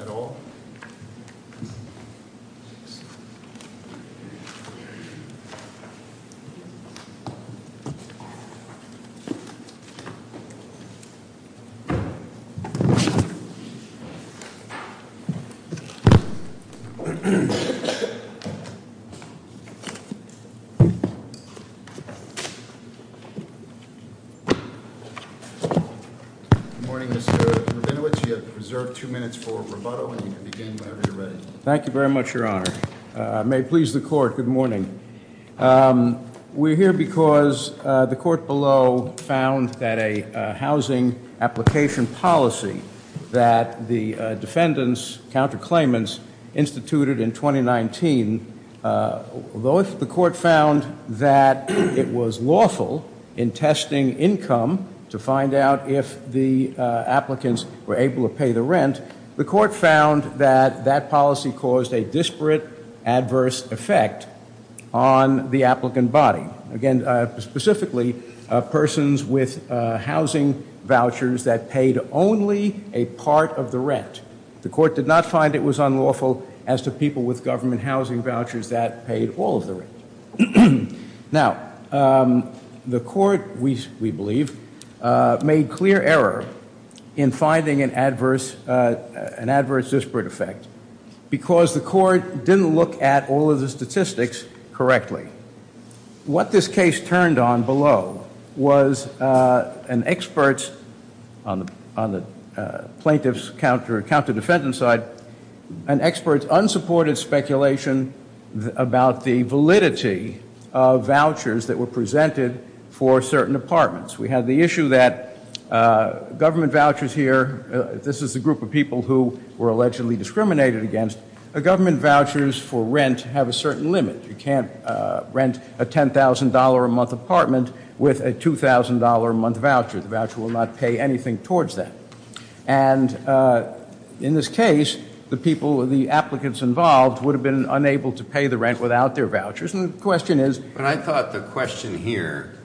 at all? Good morning, Mr. Rabinowitz. You have reserved two minutes for rebuttal, and you can begin whenever you're ready. Thank you very much, Your Honor. May it please the Court, good morning. We're here because the Court below found that a housing application policy that the defendants, counterclaimants, instituted in 2019, although the Court found that it was lawful in testing income to find out if the applicants were able to pay the rent, the Court found that that policy caused a disparate adverse effect on the applicant body. Again, specifically, persons with housing vouchers that paid only a part of the rent. The Court did not find it was lawful as to people with government housing vouchers that paid all of the rent. Now, the Court, we believe, made clear error in finding an adverse disparate effect because the Court didn't look at all of the statistics correctly. What this case turned on below was an expert on the plaintiff's counter defendant side, an expert's unsupported speculation about the validity of vouchers that were presented for certain apartments. We have the issue that government vouchers here, this is a group of people who were allegedly discriminated against, government vouchers for rent have a certain limit. You can't rent a $10,000 a month apartment with a $2,000 a month voucher. The voucher will not pay anything towards that. And in this case, the people, the applicants involved would have been unable to pay the rent without their vouchers. And the question is But I thought the question here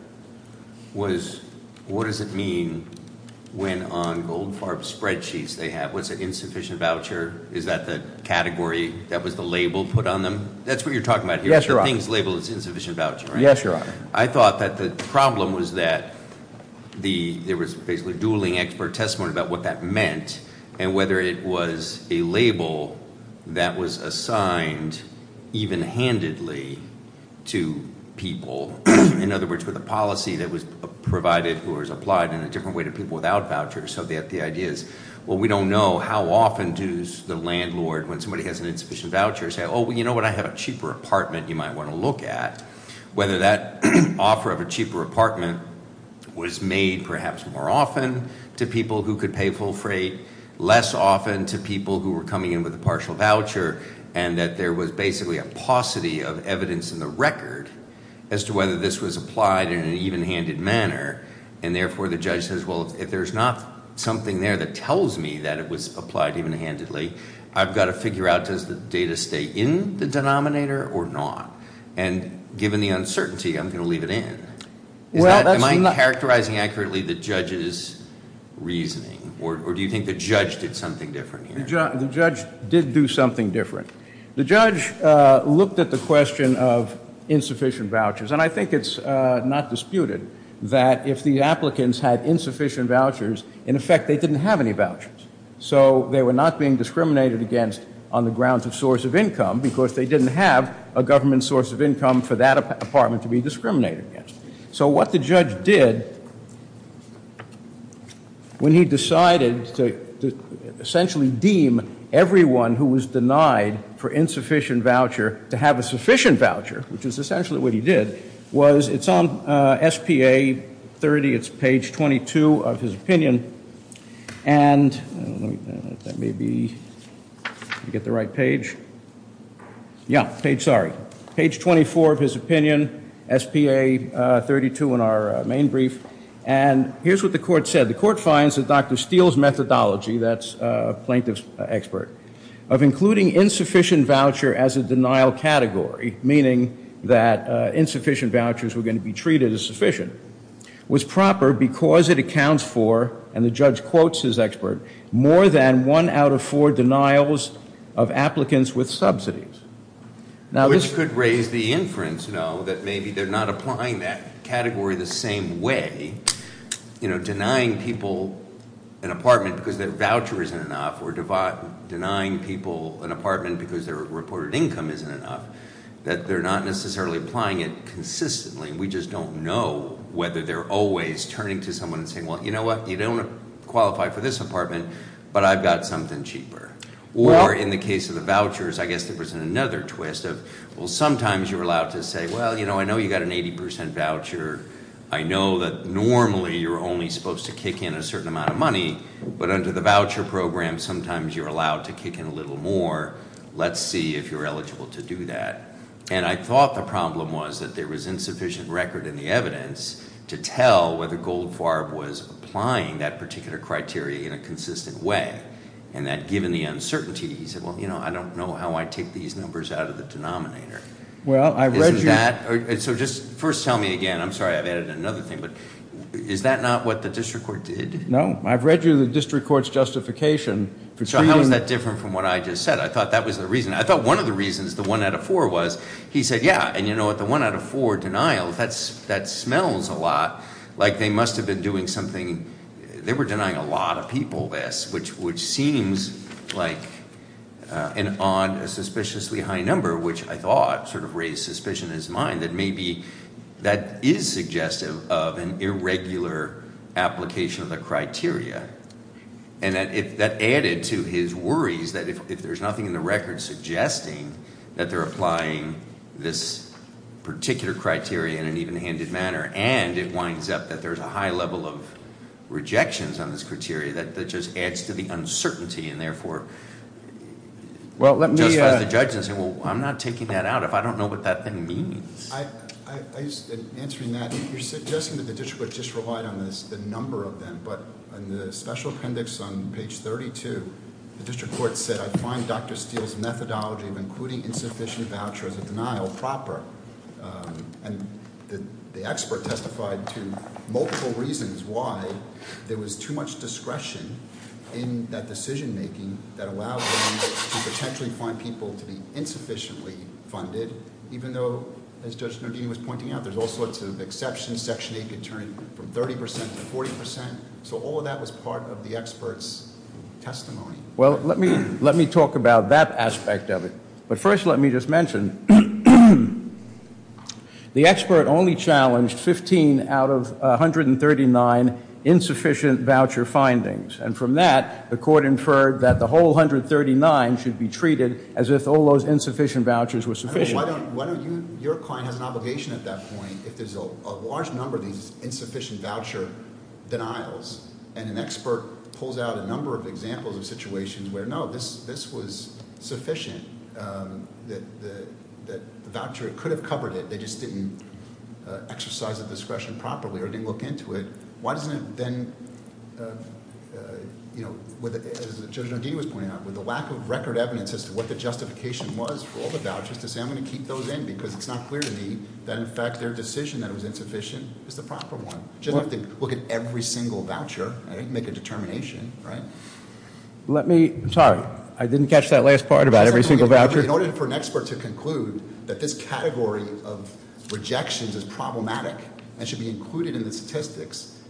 was what does it mean when on Goldfarb's spreadsheets they have, what's an insufficient voucher? Is that the category, that was the label put on them? That's what you're talking about here. I thought that the problem was that there was basically dueling expert testimony about what that meant and whether it was a label that was assigned even-handedly to people. In other words, with a policy that was provided or was applied in a different way to people without vouchers, so that the idea is, well, we don't know how often does the landlord, when somebody has an insufficient voucher, say, oh, you know what, I have a cheaper apartment you might want to look at. Whether that offer of a cheaper apartment was made perhaps more often to people who could pay full freight, less often to people who were coming in with a partial voucher, and that there was basically a paucity of evidence in the record as to whether this was applied in an even-handed manner, and therefore the judge says, well, if there's not something there that tells me that it was applied even-handedly, I've got to figure out does the data stay in the denominator or not, and given the uncertainty, I'm going to leave it in. Am I characterizing accurately the judge's reasoning, or do you think the judge did something different here? The judge did do something different. The judge looked at the question of insufficient vouchers, and I think it's not disputed that if the applicants had insufficient vouchers, in effect they didn't have any vouchers. So they were not being discriminated against on the grounds of source of income, because they didn't have a government source of income for that apartment to be discriminated against. So what the judge did when he decided to essentially deem everyone who was denied for insufficient voucher to have a sufficient voucher, which is essentially what he did, was it's on S.P.A. 30, it's page 22 of his opinion, and that may be, did I get the right page? Yeah, page, sorry. page 22 of his opinion, S.P.A. 32 in our main brief, and here's what the court said. The court finds that Dr. Steele's methodology, that's a plaintiff's expert, of including insufficient voucher as a denial category, meaning that insufficient vouchers were going to be treated as sufficient, was proper because it accounts for, and the judge quotes his expert, more than one out of four of applicants with subsidies. Which could raise the inference that maybe they're not applying that category the same way, denying people an apartment because their voucher isn't enough, or denying people an apartment because their reported income isn't enough, that they're not necessarily applying it consistently. We just don't know whether they're always turning to someone and saying well, you know what, you don't qualify for this apartment, but I've got something cheaper. Or in the case of the vouchers, I guess there was another twist of, well sometimes you're allowed to say well, I know you've got an 80% voucher, I know that normally you're only supposed to kick in a certain amount of money, but under the voucher program, sometimes you're allowed to kick in a little more, let's see if you're eligible to do that. And I thought the problem was that there was insufficient record in the evidence to tell whether Goldfarb was applying that particular criteria in a consistent way. And that given the uncertainty he said well, you know, I don't know how I take these numbers out of the denominator. So just first tell me again, I'm sorry I've added another thing, but is that not what the district court did? No, I've read you the district court's justification. So how is that different from what I just said? I thought that was the reason. I thought one of the reasons, the one out of four was, he said yeah, and you know what? The one out of four denial, that smells a lot like they must have been doing something they were denying a lot of people this, which seems like an odd, a suspiciously high number, which I thought sort of raised suspicion in his mind that maybe that is suggestive of an irregular application of the criteria. And that added to his worries that if there's nothing in the record suggesting that they're applying this particular criteria in an even-handed manner and it winds up that there's a high level of rejections on this criteria, that just adds to the uncertainty and therefore justifies the judge in saying well, I'm not taking that out if I don't know what that thing means. In answering that, you're suggesting that the district court just relied on the number of them, but in the special appendix on page 32, the district court said I find Dr. Steele's methodology of including insufficient vouchers of denial proper. And the expert testified to multiple reasons why there was too much discretion in that decision making that allowed them to potentially find people to be insufficiently funded, even though, as Judge Nardini was pointing out, there's all sorts of exceptions. Section 8 could turn from 30 percent to 40 percent. So all of that was part of the expert's testimony. Well, let me talk about that aspect of it. But first let me just mention the expert only challenged 15 out of 139 insufficient voucher findings. And from that, the court inferred that the whole 139 should be treated as if all those insufficient vouchers were sufficient. Your client has an obligation at that point if there's a large number of these insufficient voucher denials and an expert pulls out a number of examples of situations where no, this was sufficient. The voucher could have covered it, they just didn't exercise the discretion properly or didn't look into it. Why doesn't it then, as Judge Nardini was pointing out, with the lack of record evidence as to what the justification was for all the vouchers to say I'm going to keep those in because it's not clear to me that in fact their decision that it was insufficient is the proper one. Just look at every single voucher and make a determination. Sorry, I didn't catch that last part about every single voucher. In order for an expert to conclude that this category of rejections is problematic and should be included in the statistics,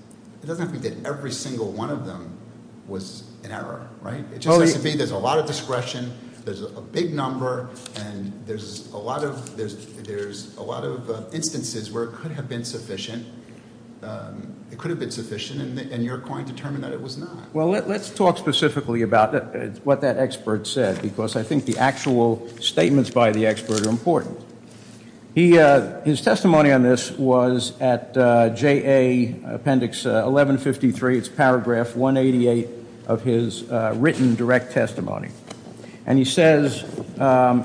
it doesn't have to be that every single one of them was an error. It just has to be there's a lot of discretion, there's a big number, and there's a lot of instances where it could have been sufficient and you're going to determine that it was not. Well, let's talk specifically about what that expert said because I think the actual statements by the expert are important. His testimony on this was at JA Appendix 1153, it's paragraph 188 of his written direct testimony. And he says,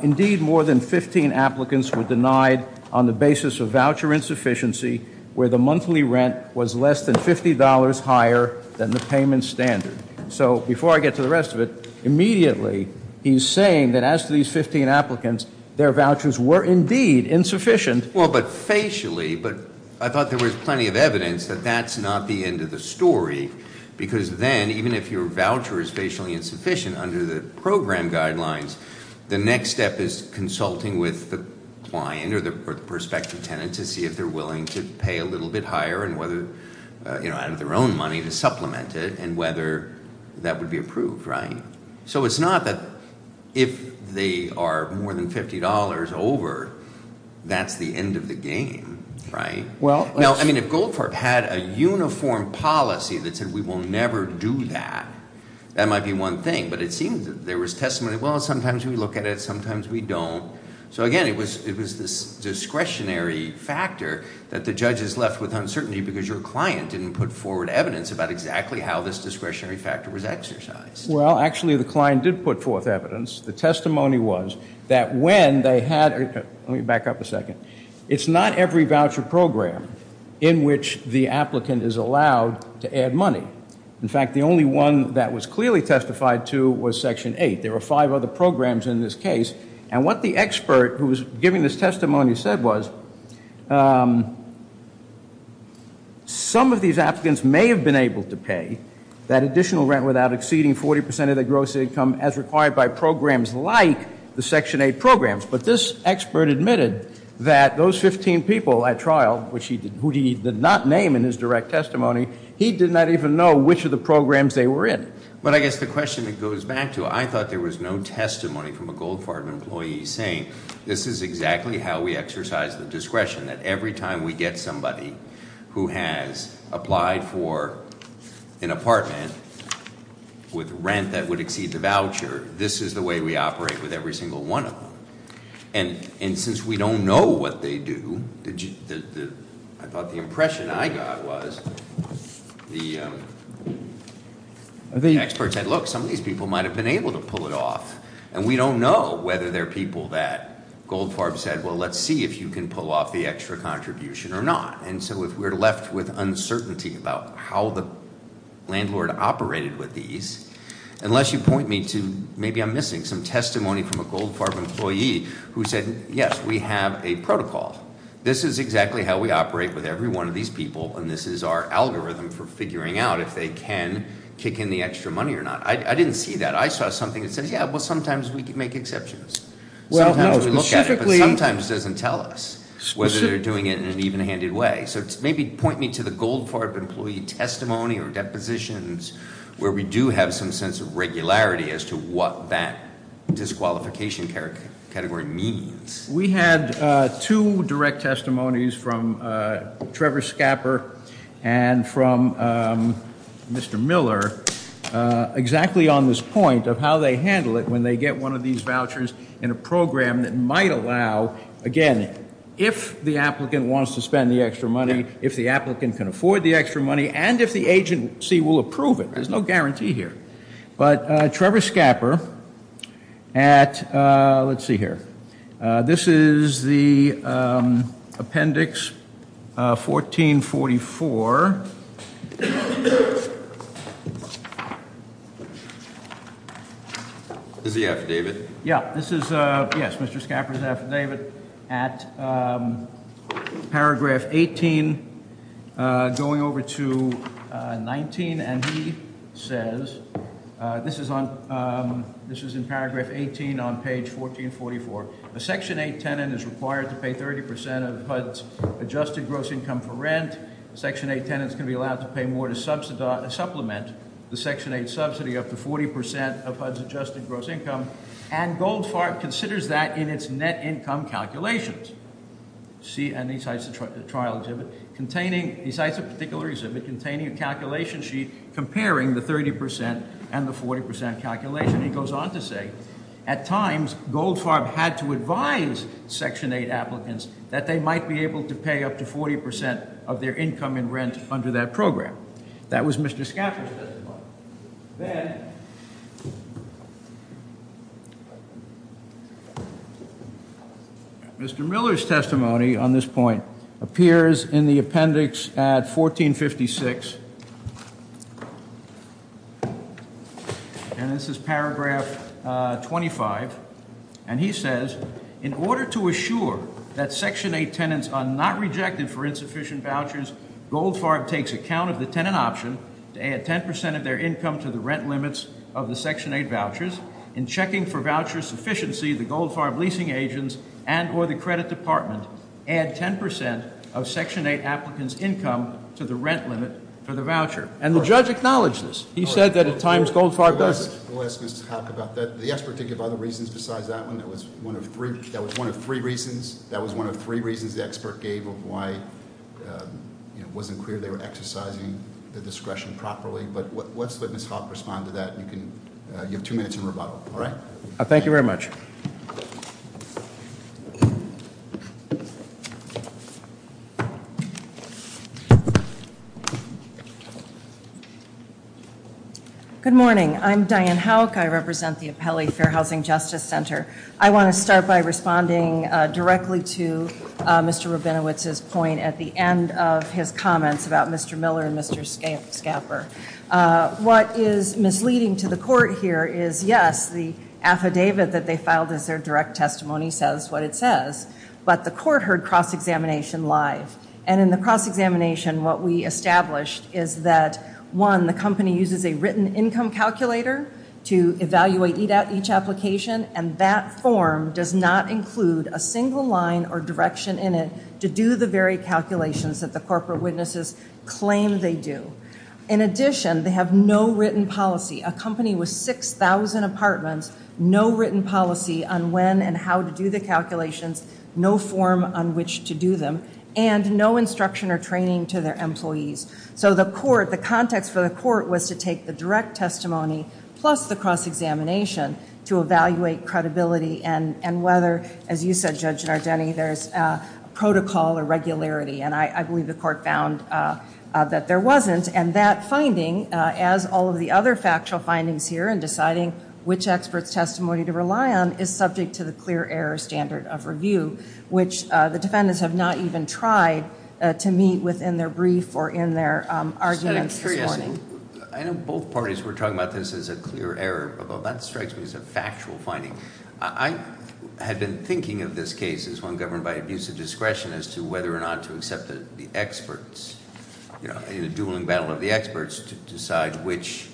indeed more than 15 applicants were denied on the basis of voucher insufficiency where the monthly rent was less than $50 higher than the payment standard. So before I get to the rest of it, immediately he's saying that as to these 15 applicants, their vouchers were indeed insufficient. Well, but facially, but I thought there was plenty of evidence that that's not the end of the story because then even if your voucher is facially insufficient under the program guidelines, the next step is consulting with the client or the prospective tenant to see if they're willing to pay a little bit higher and whether out of their own money to supplement it and whether that would be approved. So it's not that if they are more than $50 over, that's the end of the game. Right? Now, I mean, if Goldfarb had a uniform policy that said we will never do that, that might be one thing. But it seems that there was testimony, well, sometimes we look at it, sometimes we don't. So again, it was this discretionary factor that the judges left with uncertainty because your client didn't put forward evidence about exactly how this discretionary factor was exercised. Well, actually the client did put forth evidence. The testimony was that when they had, let me back up a second, it's not every voucher program in which the applicant is allowed to add money. In fact, the only one that was clearly testified to was Section 8. There were five other programs in this case. And what the expert who was giving this testimony said was some of these applicants may have been able to pay that additional rent without exceeding 40% of their gross income as required by programs like the Section 8 programs. But this expert admitted that those 15 people at trial, who he did not name in his direct testimony, he did not even know which of the programs they were in. But I guess the question that goes back to it, I thought there was no testimony from a Goldfarb employee saying this is exactly how we exercise the discretion, that every time we get somebody who has applied for an apartment with rent that would exceed the voucher, this is the way we operate with every single one of them. And since we don't know what they do, I thought the impression I got was the expert said, look, some of these people might have been able to pull it off. And we don't know whether they're people that Goldfarb said, well, let's see if you can pull off the extra contribution or not. And so if we're left with uncertainty about how the landlord operated with these, unless you point me to, maybe I'm missing, some testimony from a Goldfarb employee who said, yes, we have a protocol. This is exactly how we operate with every one of these people, and this is our algorithm for figuring out if they can kick in the extra money or not. I didn't see that. I saw something that said, yeah, well, sometimes we can make exceptions. Sometimes we look at it, but sometimes it doesn't tell us whether they're doing it in an even-handed way. So maybe point me to the Goldfarb employee testimony or depositions where we do have some sense of regularity as to what that disqualification category means. We had two direct testimonies from Trevor Scapper and from Mr. Miller exactly on this point of how they handle it when they get one of these vouchers in a program that might allow, again, if the applicant wants to spend the extra money, if the applicant can afford the extra money, and if the agency will approve it. There's no guarantee here. But Trevor Scapper at, let's see, 1444. Is the affidavit? Yeah. This is, yes, Mr. Scapper's affidavit at paragraph 18, going over to 19, and he says, this is in paragraph 18 on page 1444. A section 8 tenant is required to pay 30% of HUD's adjusted gross income for rent. Section 8 tenants can be allowed to pay more to supplement the section 8 subsidy up to 40% of HUD's adjusted gross income, and Goldfarb considers that in its net income calculations. See, and he cites a trial exhibit containing, he cites a particular exhibit containing a calculation sheet comparing the 30% and the 40% calculation. He goes on to say, at times, Goldfarb had to advise section 8 applicants that they might be able to pay up to 40% of their income in rent under that program. That was Mr. Scapper's testimony. Then, Mr. Miller's testimony on this point appears in the appendix at 1456, and this is paragraph 25, and he says, in order to assure that section 8 tenants are not rejected for insufficient vouchers, Goldfarb takes account of the tenant option to add 10% of their income to the rent limits of the section 8 vouchers. In checking for voucher sufficiency, the section 8 applicants' income to the rent limit for the voucher. And the judge acknowledged this. He said that at times, Goldfarb doesn't. That was one of three reasons the expert gave of why it wasn't clear they were exercising the discretion properly, but let's let Ms. Hawk respond to that. You have two minutes in rebuttal. Thank you very much. Good morning. I'm Diane Hawk. I represent the Apelli Fair Housing Justice Center. I want to start by responding directly to Mr. Rabinowitz's point at the end of his comments about Mr. Miller and Mr. Scapper. What is misleading to the court here is, yes, the affidavit that they filed as their direct testimony says what it says, but the court heard cross-examination live. And in the cross-examination, what we established is that, one, the company uses a written income calculator to evaluate each application, and that form does not include a single line or direction in it to do the very calculations that the corporate witnesses claim they do. In addition, they have no written policy. A company with 6,000 apartments, no written policy on when and how to do the calculations, no form on which to do them, and no instruction or training to their employees. So the context for the court was to take the direct testimony plus the cross-examination to evaluate credibility and whether, as you said, Judge Nardeni, there's protocol or regularity, and I believe the court found that there wasn't. And that finding, as all of the other factual findings here in deciding which expert's testimony to rely on, is subject to the clear error standard of review, which the defendants have not even tried to meet within their brief or in their arguments this morning. I know both parties were talking about this as a clear error, but that strikes me as a factual finding. I had been thinking of this case as one governed by abuse of discretion as to whether or not to accept the experts, in a dueling battle of the experts, to decide which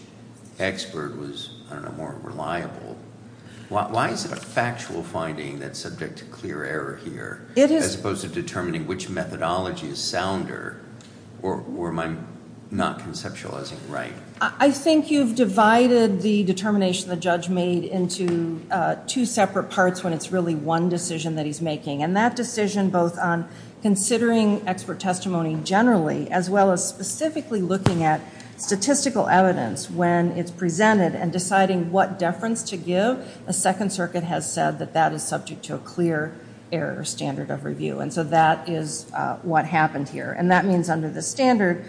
expert was, I don't know, more reliable. Why is it a factual finding that's subject to clear error here, as opposed to determining which methodology is sounder, or am I not conceptualizing right? I think you've divided the determination the judge made into two separate parts when it's really one decision that he's making. And that decision, both on considering expert testimony generally, as well as specifically looking at statistical evidence when it's presented and deciding what deference to give, the Second Circuit has said that that is subject to a clear error standard of review. And so that is what happened here. And that means under the standard,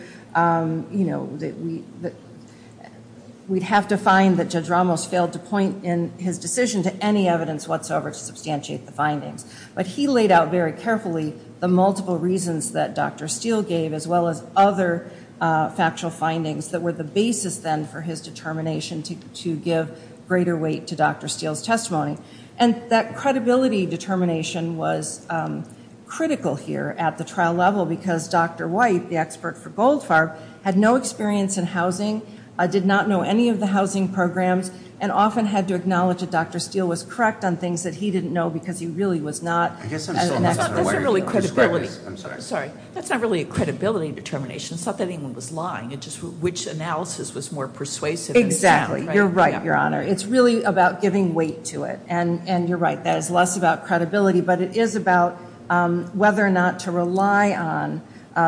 we'd have to find that Judge Ramos failed to point in his decision to any evidence whatsoever to substantiate the findings. But he laid out very carefully the multiple reasons that Dr. Steele gave, as well as other factual findings that were the basis then for his determination to give greater weight to Dr. Steele's testimony. And that credibility determination was critical here at the trial level because Dr. White, the expert for Goldfarb, had no experience in housing, did not know any of the housing programs, and often had to acknowledge that Dr. Steele was correct on things that he didn't know because he really was not an expert. That's not really a credibility determination. It's not that anyone was lying. It's just which analysis was more persuasive. Exactly. You're right, Your Honor. It's really about giving weight to it. And you're right, that is less about credibility, but it is about whether or not to rely on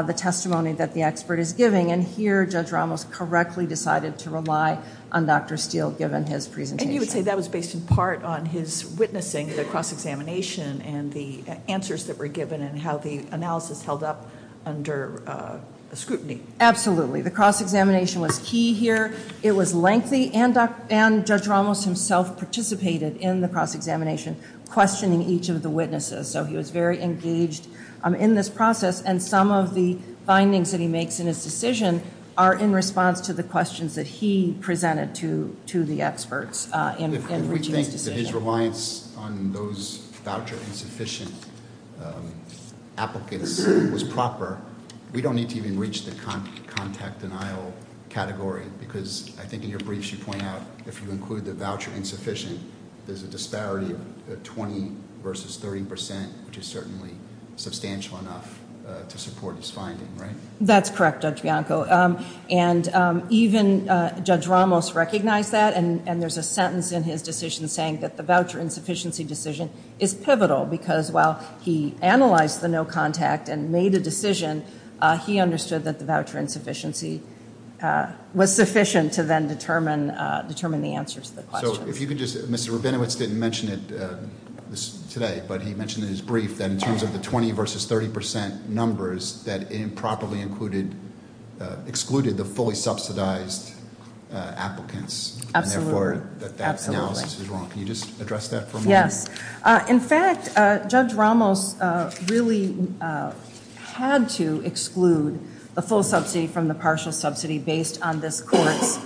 the testimony that the expert is giving. And here, Judge Ramos correctly decided to rely on Dr. Steele given his presentation. And you would say that was based in part on his witnessing the cross examination and the answers that were given and how the analysis held up under scrutiny. Absolutely. The cross examination was key here. It was lengthy and Judge Ramos himself participated in the cross examination, questioning each of the witnesses. So he was very engaged in this process. And some of the findings that he makes in his decision are in response to the questions that he presented to the experts in his decision. If we think that his reliance on those voucher insufficient applicants was proper, we don't need to even reach the contact denial category because I think in your briefs you point out if you include the voucher insufficient, there's a disparity of 20 versus 30 percent, which is certainly substantial enough to support his finding, right? That's correct, Judge Bianco. And even Judge Ramos recognized that and there's a sentence in his decision saying that the voucher insufficiency decision is pivotal because while he analyzed the no contact and made a decision, he understood that the voucher insufficiency was sufficient to then determine the answers to the questions. So if you could just, Mr. Rabinowitz didn't mention it today, but he mentioned in his brief that in terms of the 20 versus 30 percent numbers, that improperly excluded the fully subsidized applicants. Absolutely. Can you just address that for me? Yes. In fact, Judge Ramos really had to exclude the full subsidy from the partial subsidy based on this court's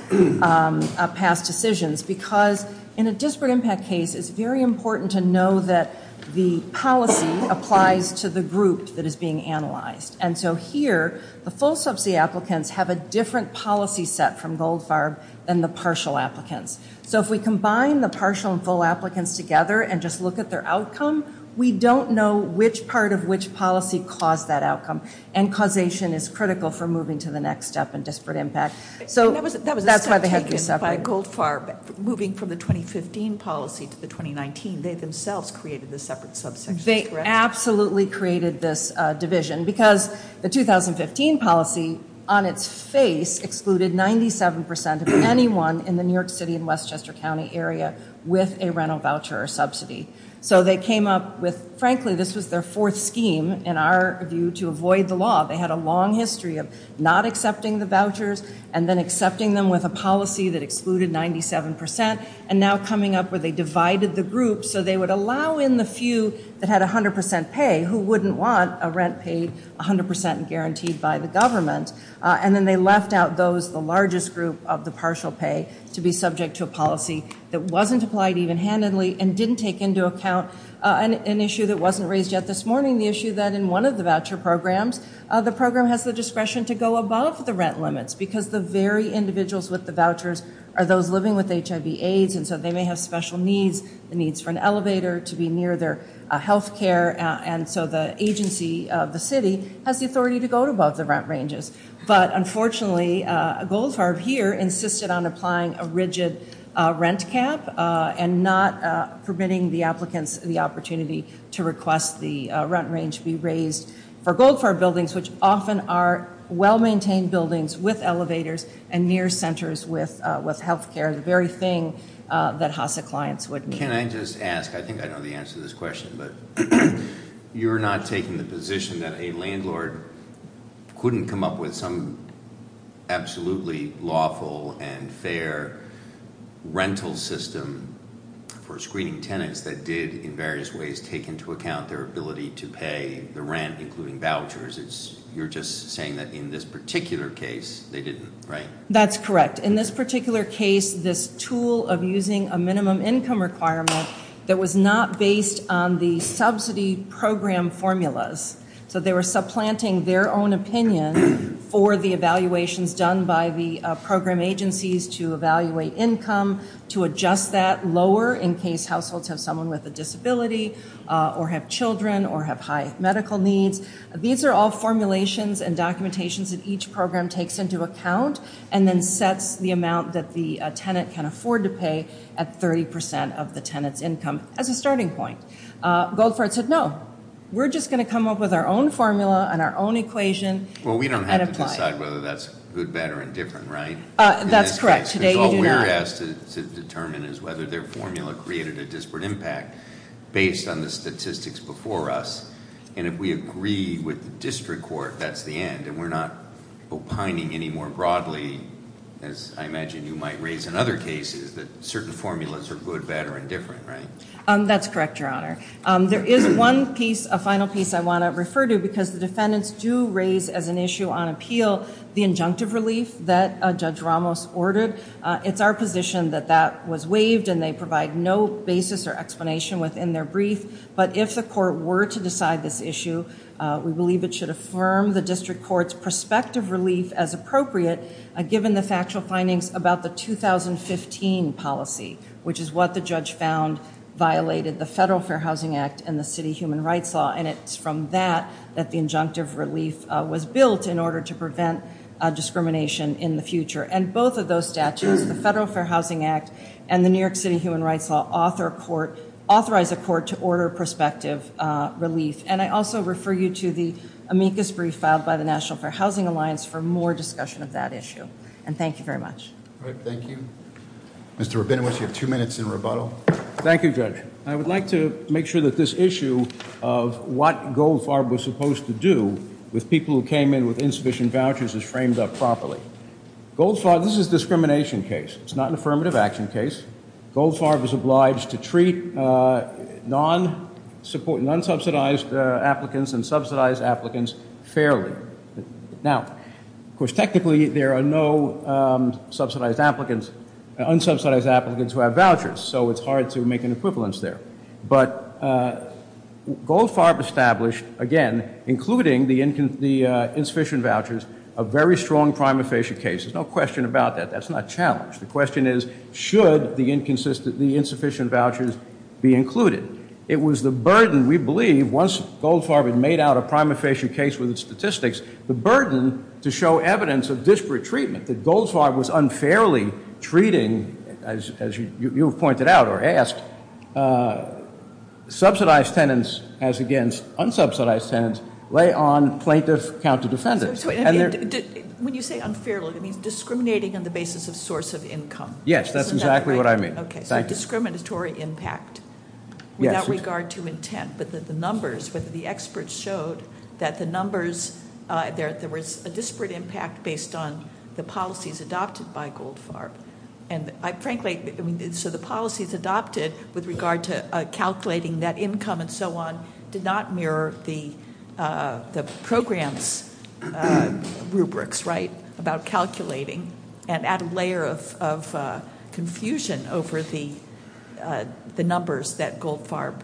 past decisions because in a disparate impact case, it's very important to know that the policy applies to the group that is being analyzed. And so here, the full subsidy applicants have a different policy set from Goldfarb than the partial applicants. So if we combine the partial and full applicants together and just look at their outcome, we don't know which part of which policy caused that outcome. And causation is critical for moving to the next step in disparate impact. So that's why they have to be separate. By Goldfarb, moving from the 2015 policy to the 2019, they themselves created the separate subsection, correct? They absolutely created this division because the 2015 policy on its face excluded 97 percent of anyone in the New York City and Westchester County area with a rental voucher or subsidy. So they came up with, frankly, this was their fourth scheme in our view to avoid the law. They had a long history of not accepting the vouchers and then accepting them with a policy that excluded 97 percent and now coming up where they divided the group so they would allow in the few that had 100 percent pay who wouldn't want a rent paid 100 percent and guaranteed by the government. And then they left out those, the largest group of the partial pay to be subject to a policy that wasn't applied even handedly and didn't take into account an issue that wasn't raised yet this morning, the issue that in one of the voucher programs, the program has the discretion to go above the rent limits because the very individuals with the vouchers are those living with HIV AIDS and so they may have special needs, the needs for an elevator to be near their health care and so the agency of the city has the authority to go above the rent ranges. But unfortunately, Goldfarb here insisted on applying a rigid rent cap and not permitting the applicants the opportunity to request the rent range be raised for Goldfarb buildings which often are well-maintained buildings with elevators and near centers with health care, the very thing that HASA clients would need. Can I just ask, I think I know the answer to this question, but you're not taking the position that a landlord couldn't come up with some absolutely lawful and fair rental system for screening tenants that did in various ways take into account their ability to pay the rent including vouchers. You're just saying that in this particular case, they didn't, right? That's correct. In this particular case, this tool of using a minimum income requirement that was not based on the subsidy program formulas. So they were supplanting their own opinion for the evaluations done by the program agencies to evaluate income, to adjust that lower in case households have someone with a disability or have children or have high medical needs. These are all formulations and documentations that each program takes into account and then sets the amount that the tenant can afford to pay at 30% of the tenant's income as a starting point. Goldfart said, no. We're just going to come up with our own formula and our own equation and apply it. Well, we don't have to decide whether that's good, bad, or indifferent, right? That's correct. All we're asked to determine is whether their formula created a disparate impact based on the statistics before us. And if we agree with the district court, that's the end. And we're not opining any more broadly, as I imagine you might raise in other cases, that certain formulas are good, bad, or indifferent, right? That's correct, Your Honor. There is one final piece I want to refer to because the defendants do raise as an issue on appeal the injunctive relief that Judge Ramos ordered. It's our position that that was waived and they provide no basis or explanation within their brief. But if the court were to decide this issue, we believe it should affirm the district court's prospective relief as appropriate, given the factual findings about the 2015 policy, which is what the judge found violated the Federal Fair Housing Act and the City Human Rights Law. And it's from that that the injunctive relief was built in order to prevent discrimination in the future. And both of those statutes, the Federal Prospective Relief. And I also refer you to the amicus brief filed by the National Fair Housing Alliance for more discussion of that issue. And thank you very much. Mr. Rabinowitz, you have two minutes in rebuttal. Thank you, Judge. I would like to make sure that this issue of what Goldfarb was supposed to do with people who came in with insufficient vouchers is framed up properly. Goldfarb, this is a discrimination case. It's not an affirmative action case. Goldfarb is obliged to treat non-subsidized applicants and subsidized applicants fairly. Now, of course, technically there are no subsidized applicants, unsubsidized applicants who have vouchers. So it's hard to make an equivalence there. But Goldfarb established, again, including the insufficient vouchers, a very strong prima facie case. There's no question about that. That's not challenged. The question is, should the insufficient vouchers be included? It was the burden, we believe, once Goldfarb had made out a prima facie case with its statistics, the burden to show evidence of disparate treatment, that Goldfarb was unfairly treating, as you have pointed out or asked, subsidized tenants as against unsubsidized tenants lay on plaintiff counter defendants. When you say unfairly, it means discriminating on the basis of source of income. Yes, that's exactly what I mean. So discriminatory impact without regard to intent, but the numbers, whether the experts showed that the numbers, there was a disparate impact based on the policies adopted with regard to calculating that income and so on, did not mirror the program's rubrics, right, about calculating and add a layer of confusion over the numbers that Goldfarb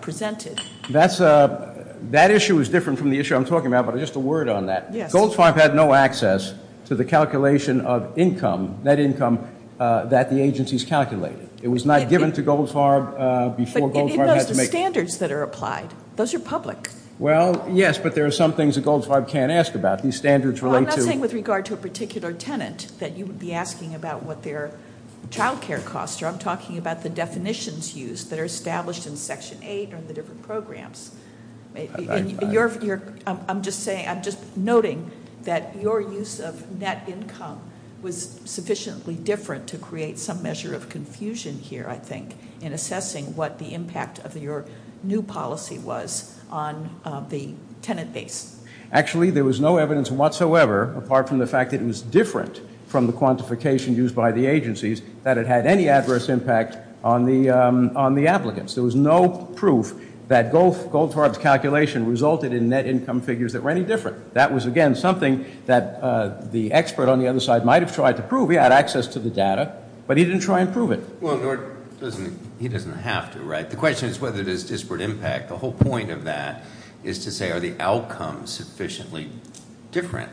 presented. That issue is different from the issue I'm talking about, but just a word on that. Goldfarb had no access to the calculation of income, net income, that the agencies calculated. It was not given to Goldfarb before Goldfarb had to make... But it knows the standards that are applied. Those are public. Well, yes, but there are some things that Goldfarb can't ask about. These standards relate to... Well, I'm not saying with regard to a particular tenant that you would be asking about what their child care costs are. I'm talking about the definitions used that are established in Section 8 or the different programs. I'm just noting that your use of net income was sufficiently different to create some measure of confusion here, I think, in assessing what the impact of your new policy was on the tenant base. Actually, there was no evidence whatsoever, apart from the fact that it was different from the quantification used by the agencies, that it had any adverse impact on the applicants. There was no proof that Goldfarb's calculation resulted in net income figures that were any different. That was, again, something that the expert on the other side might have tried to prove. He had access to the data, but he didn't try and prove it. Well, he doesn't have to, right? The question is whether there's disparate impact. The whole point of that is to say, are the outcomes sufficiently different?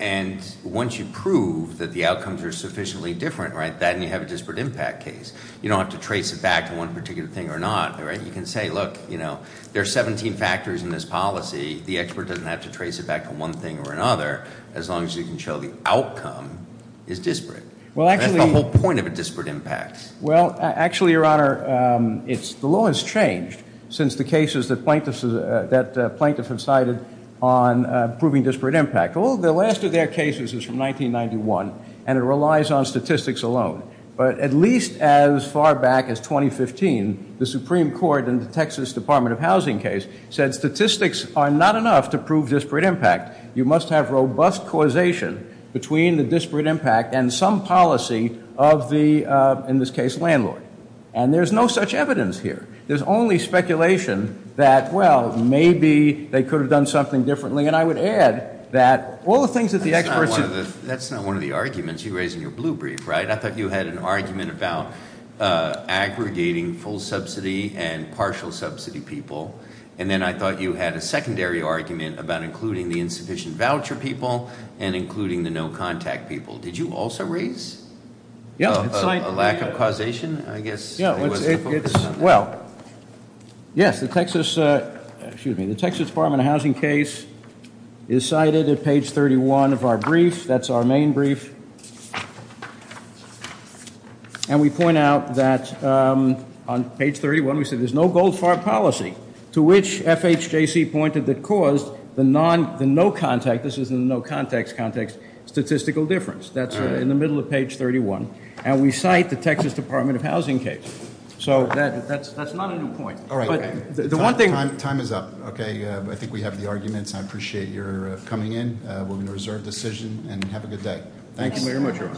And once you prove that the outcomes are sufficiently different, then you have a disparate impact case. You don't have to trace it back to one particular thing or not. You can say, look, there are 17 factors in this policy. The expert doesn't have to trace it back to one thing or another as long as you can show the outcome is disparate. That's the whole point of a disparate impact. Well, actually, Your Honor, the law has changed since the cases that plaintiffs have cited on proving disparate impact. Well, the last of their cases is from 1991, and it relies on statistics alone. But at least as far back as 2015, the Supreme Court in the Texas Department of Housing case said statistics are not enough to prove disparate impact. You must have robust causation between the disparate impact and some policy of the, in this case, landlord. And there's no such evidence here. There's only speculation that, well, maybe they could have done something differently. And I would add that all the things that the experts... That's not one of the arguments you raised in your blue brief, right? I thought you had an argument about aggregating full subsidy and partial subsidy people. And then I thought you had a secondary argument about including the insufficient voucher people and including the no contact people. Did you also raise a lack of causation, I guess? Well, yes. The Texas Department of Housing case is cited at page 31 of our brief. That's our main brief. And we point out that on page 31, we said there's no gold farm policy to which FHJC pointed that caused the no contact, this is the no context context, statistical difference. That's in the middle of page 31. And we cite the Texas Department of Housing case. So that's not a new point. Time is up. I think we have the arguments. I appreciate your coming in. We're going to reserve decision and have a good day. Thank you.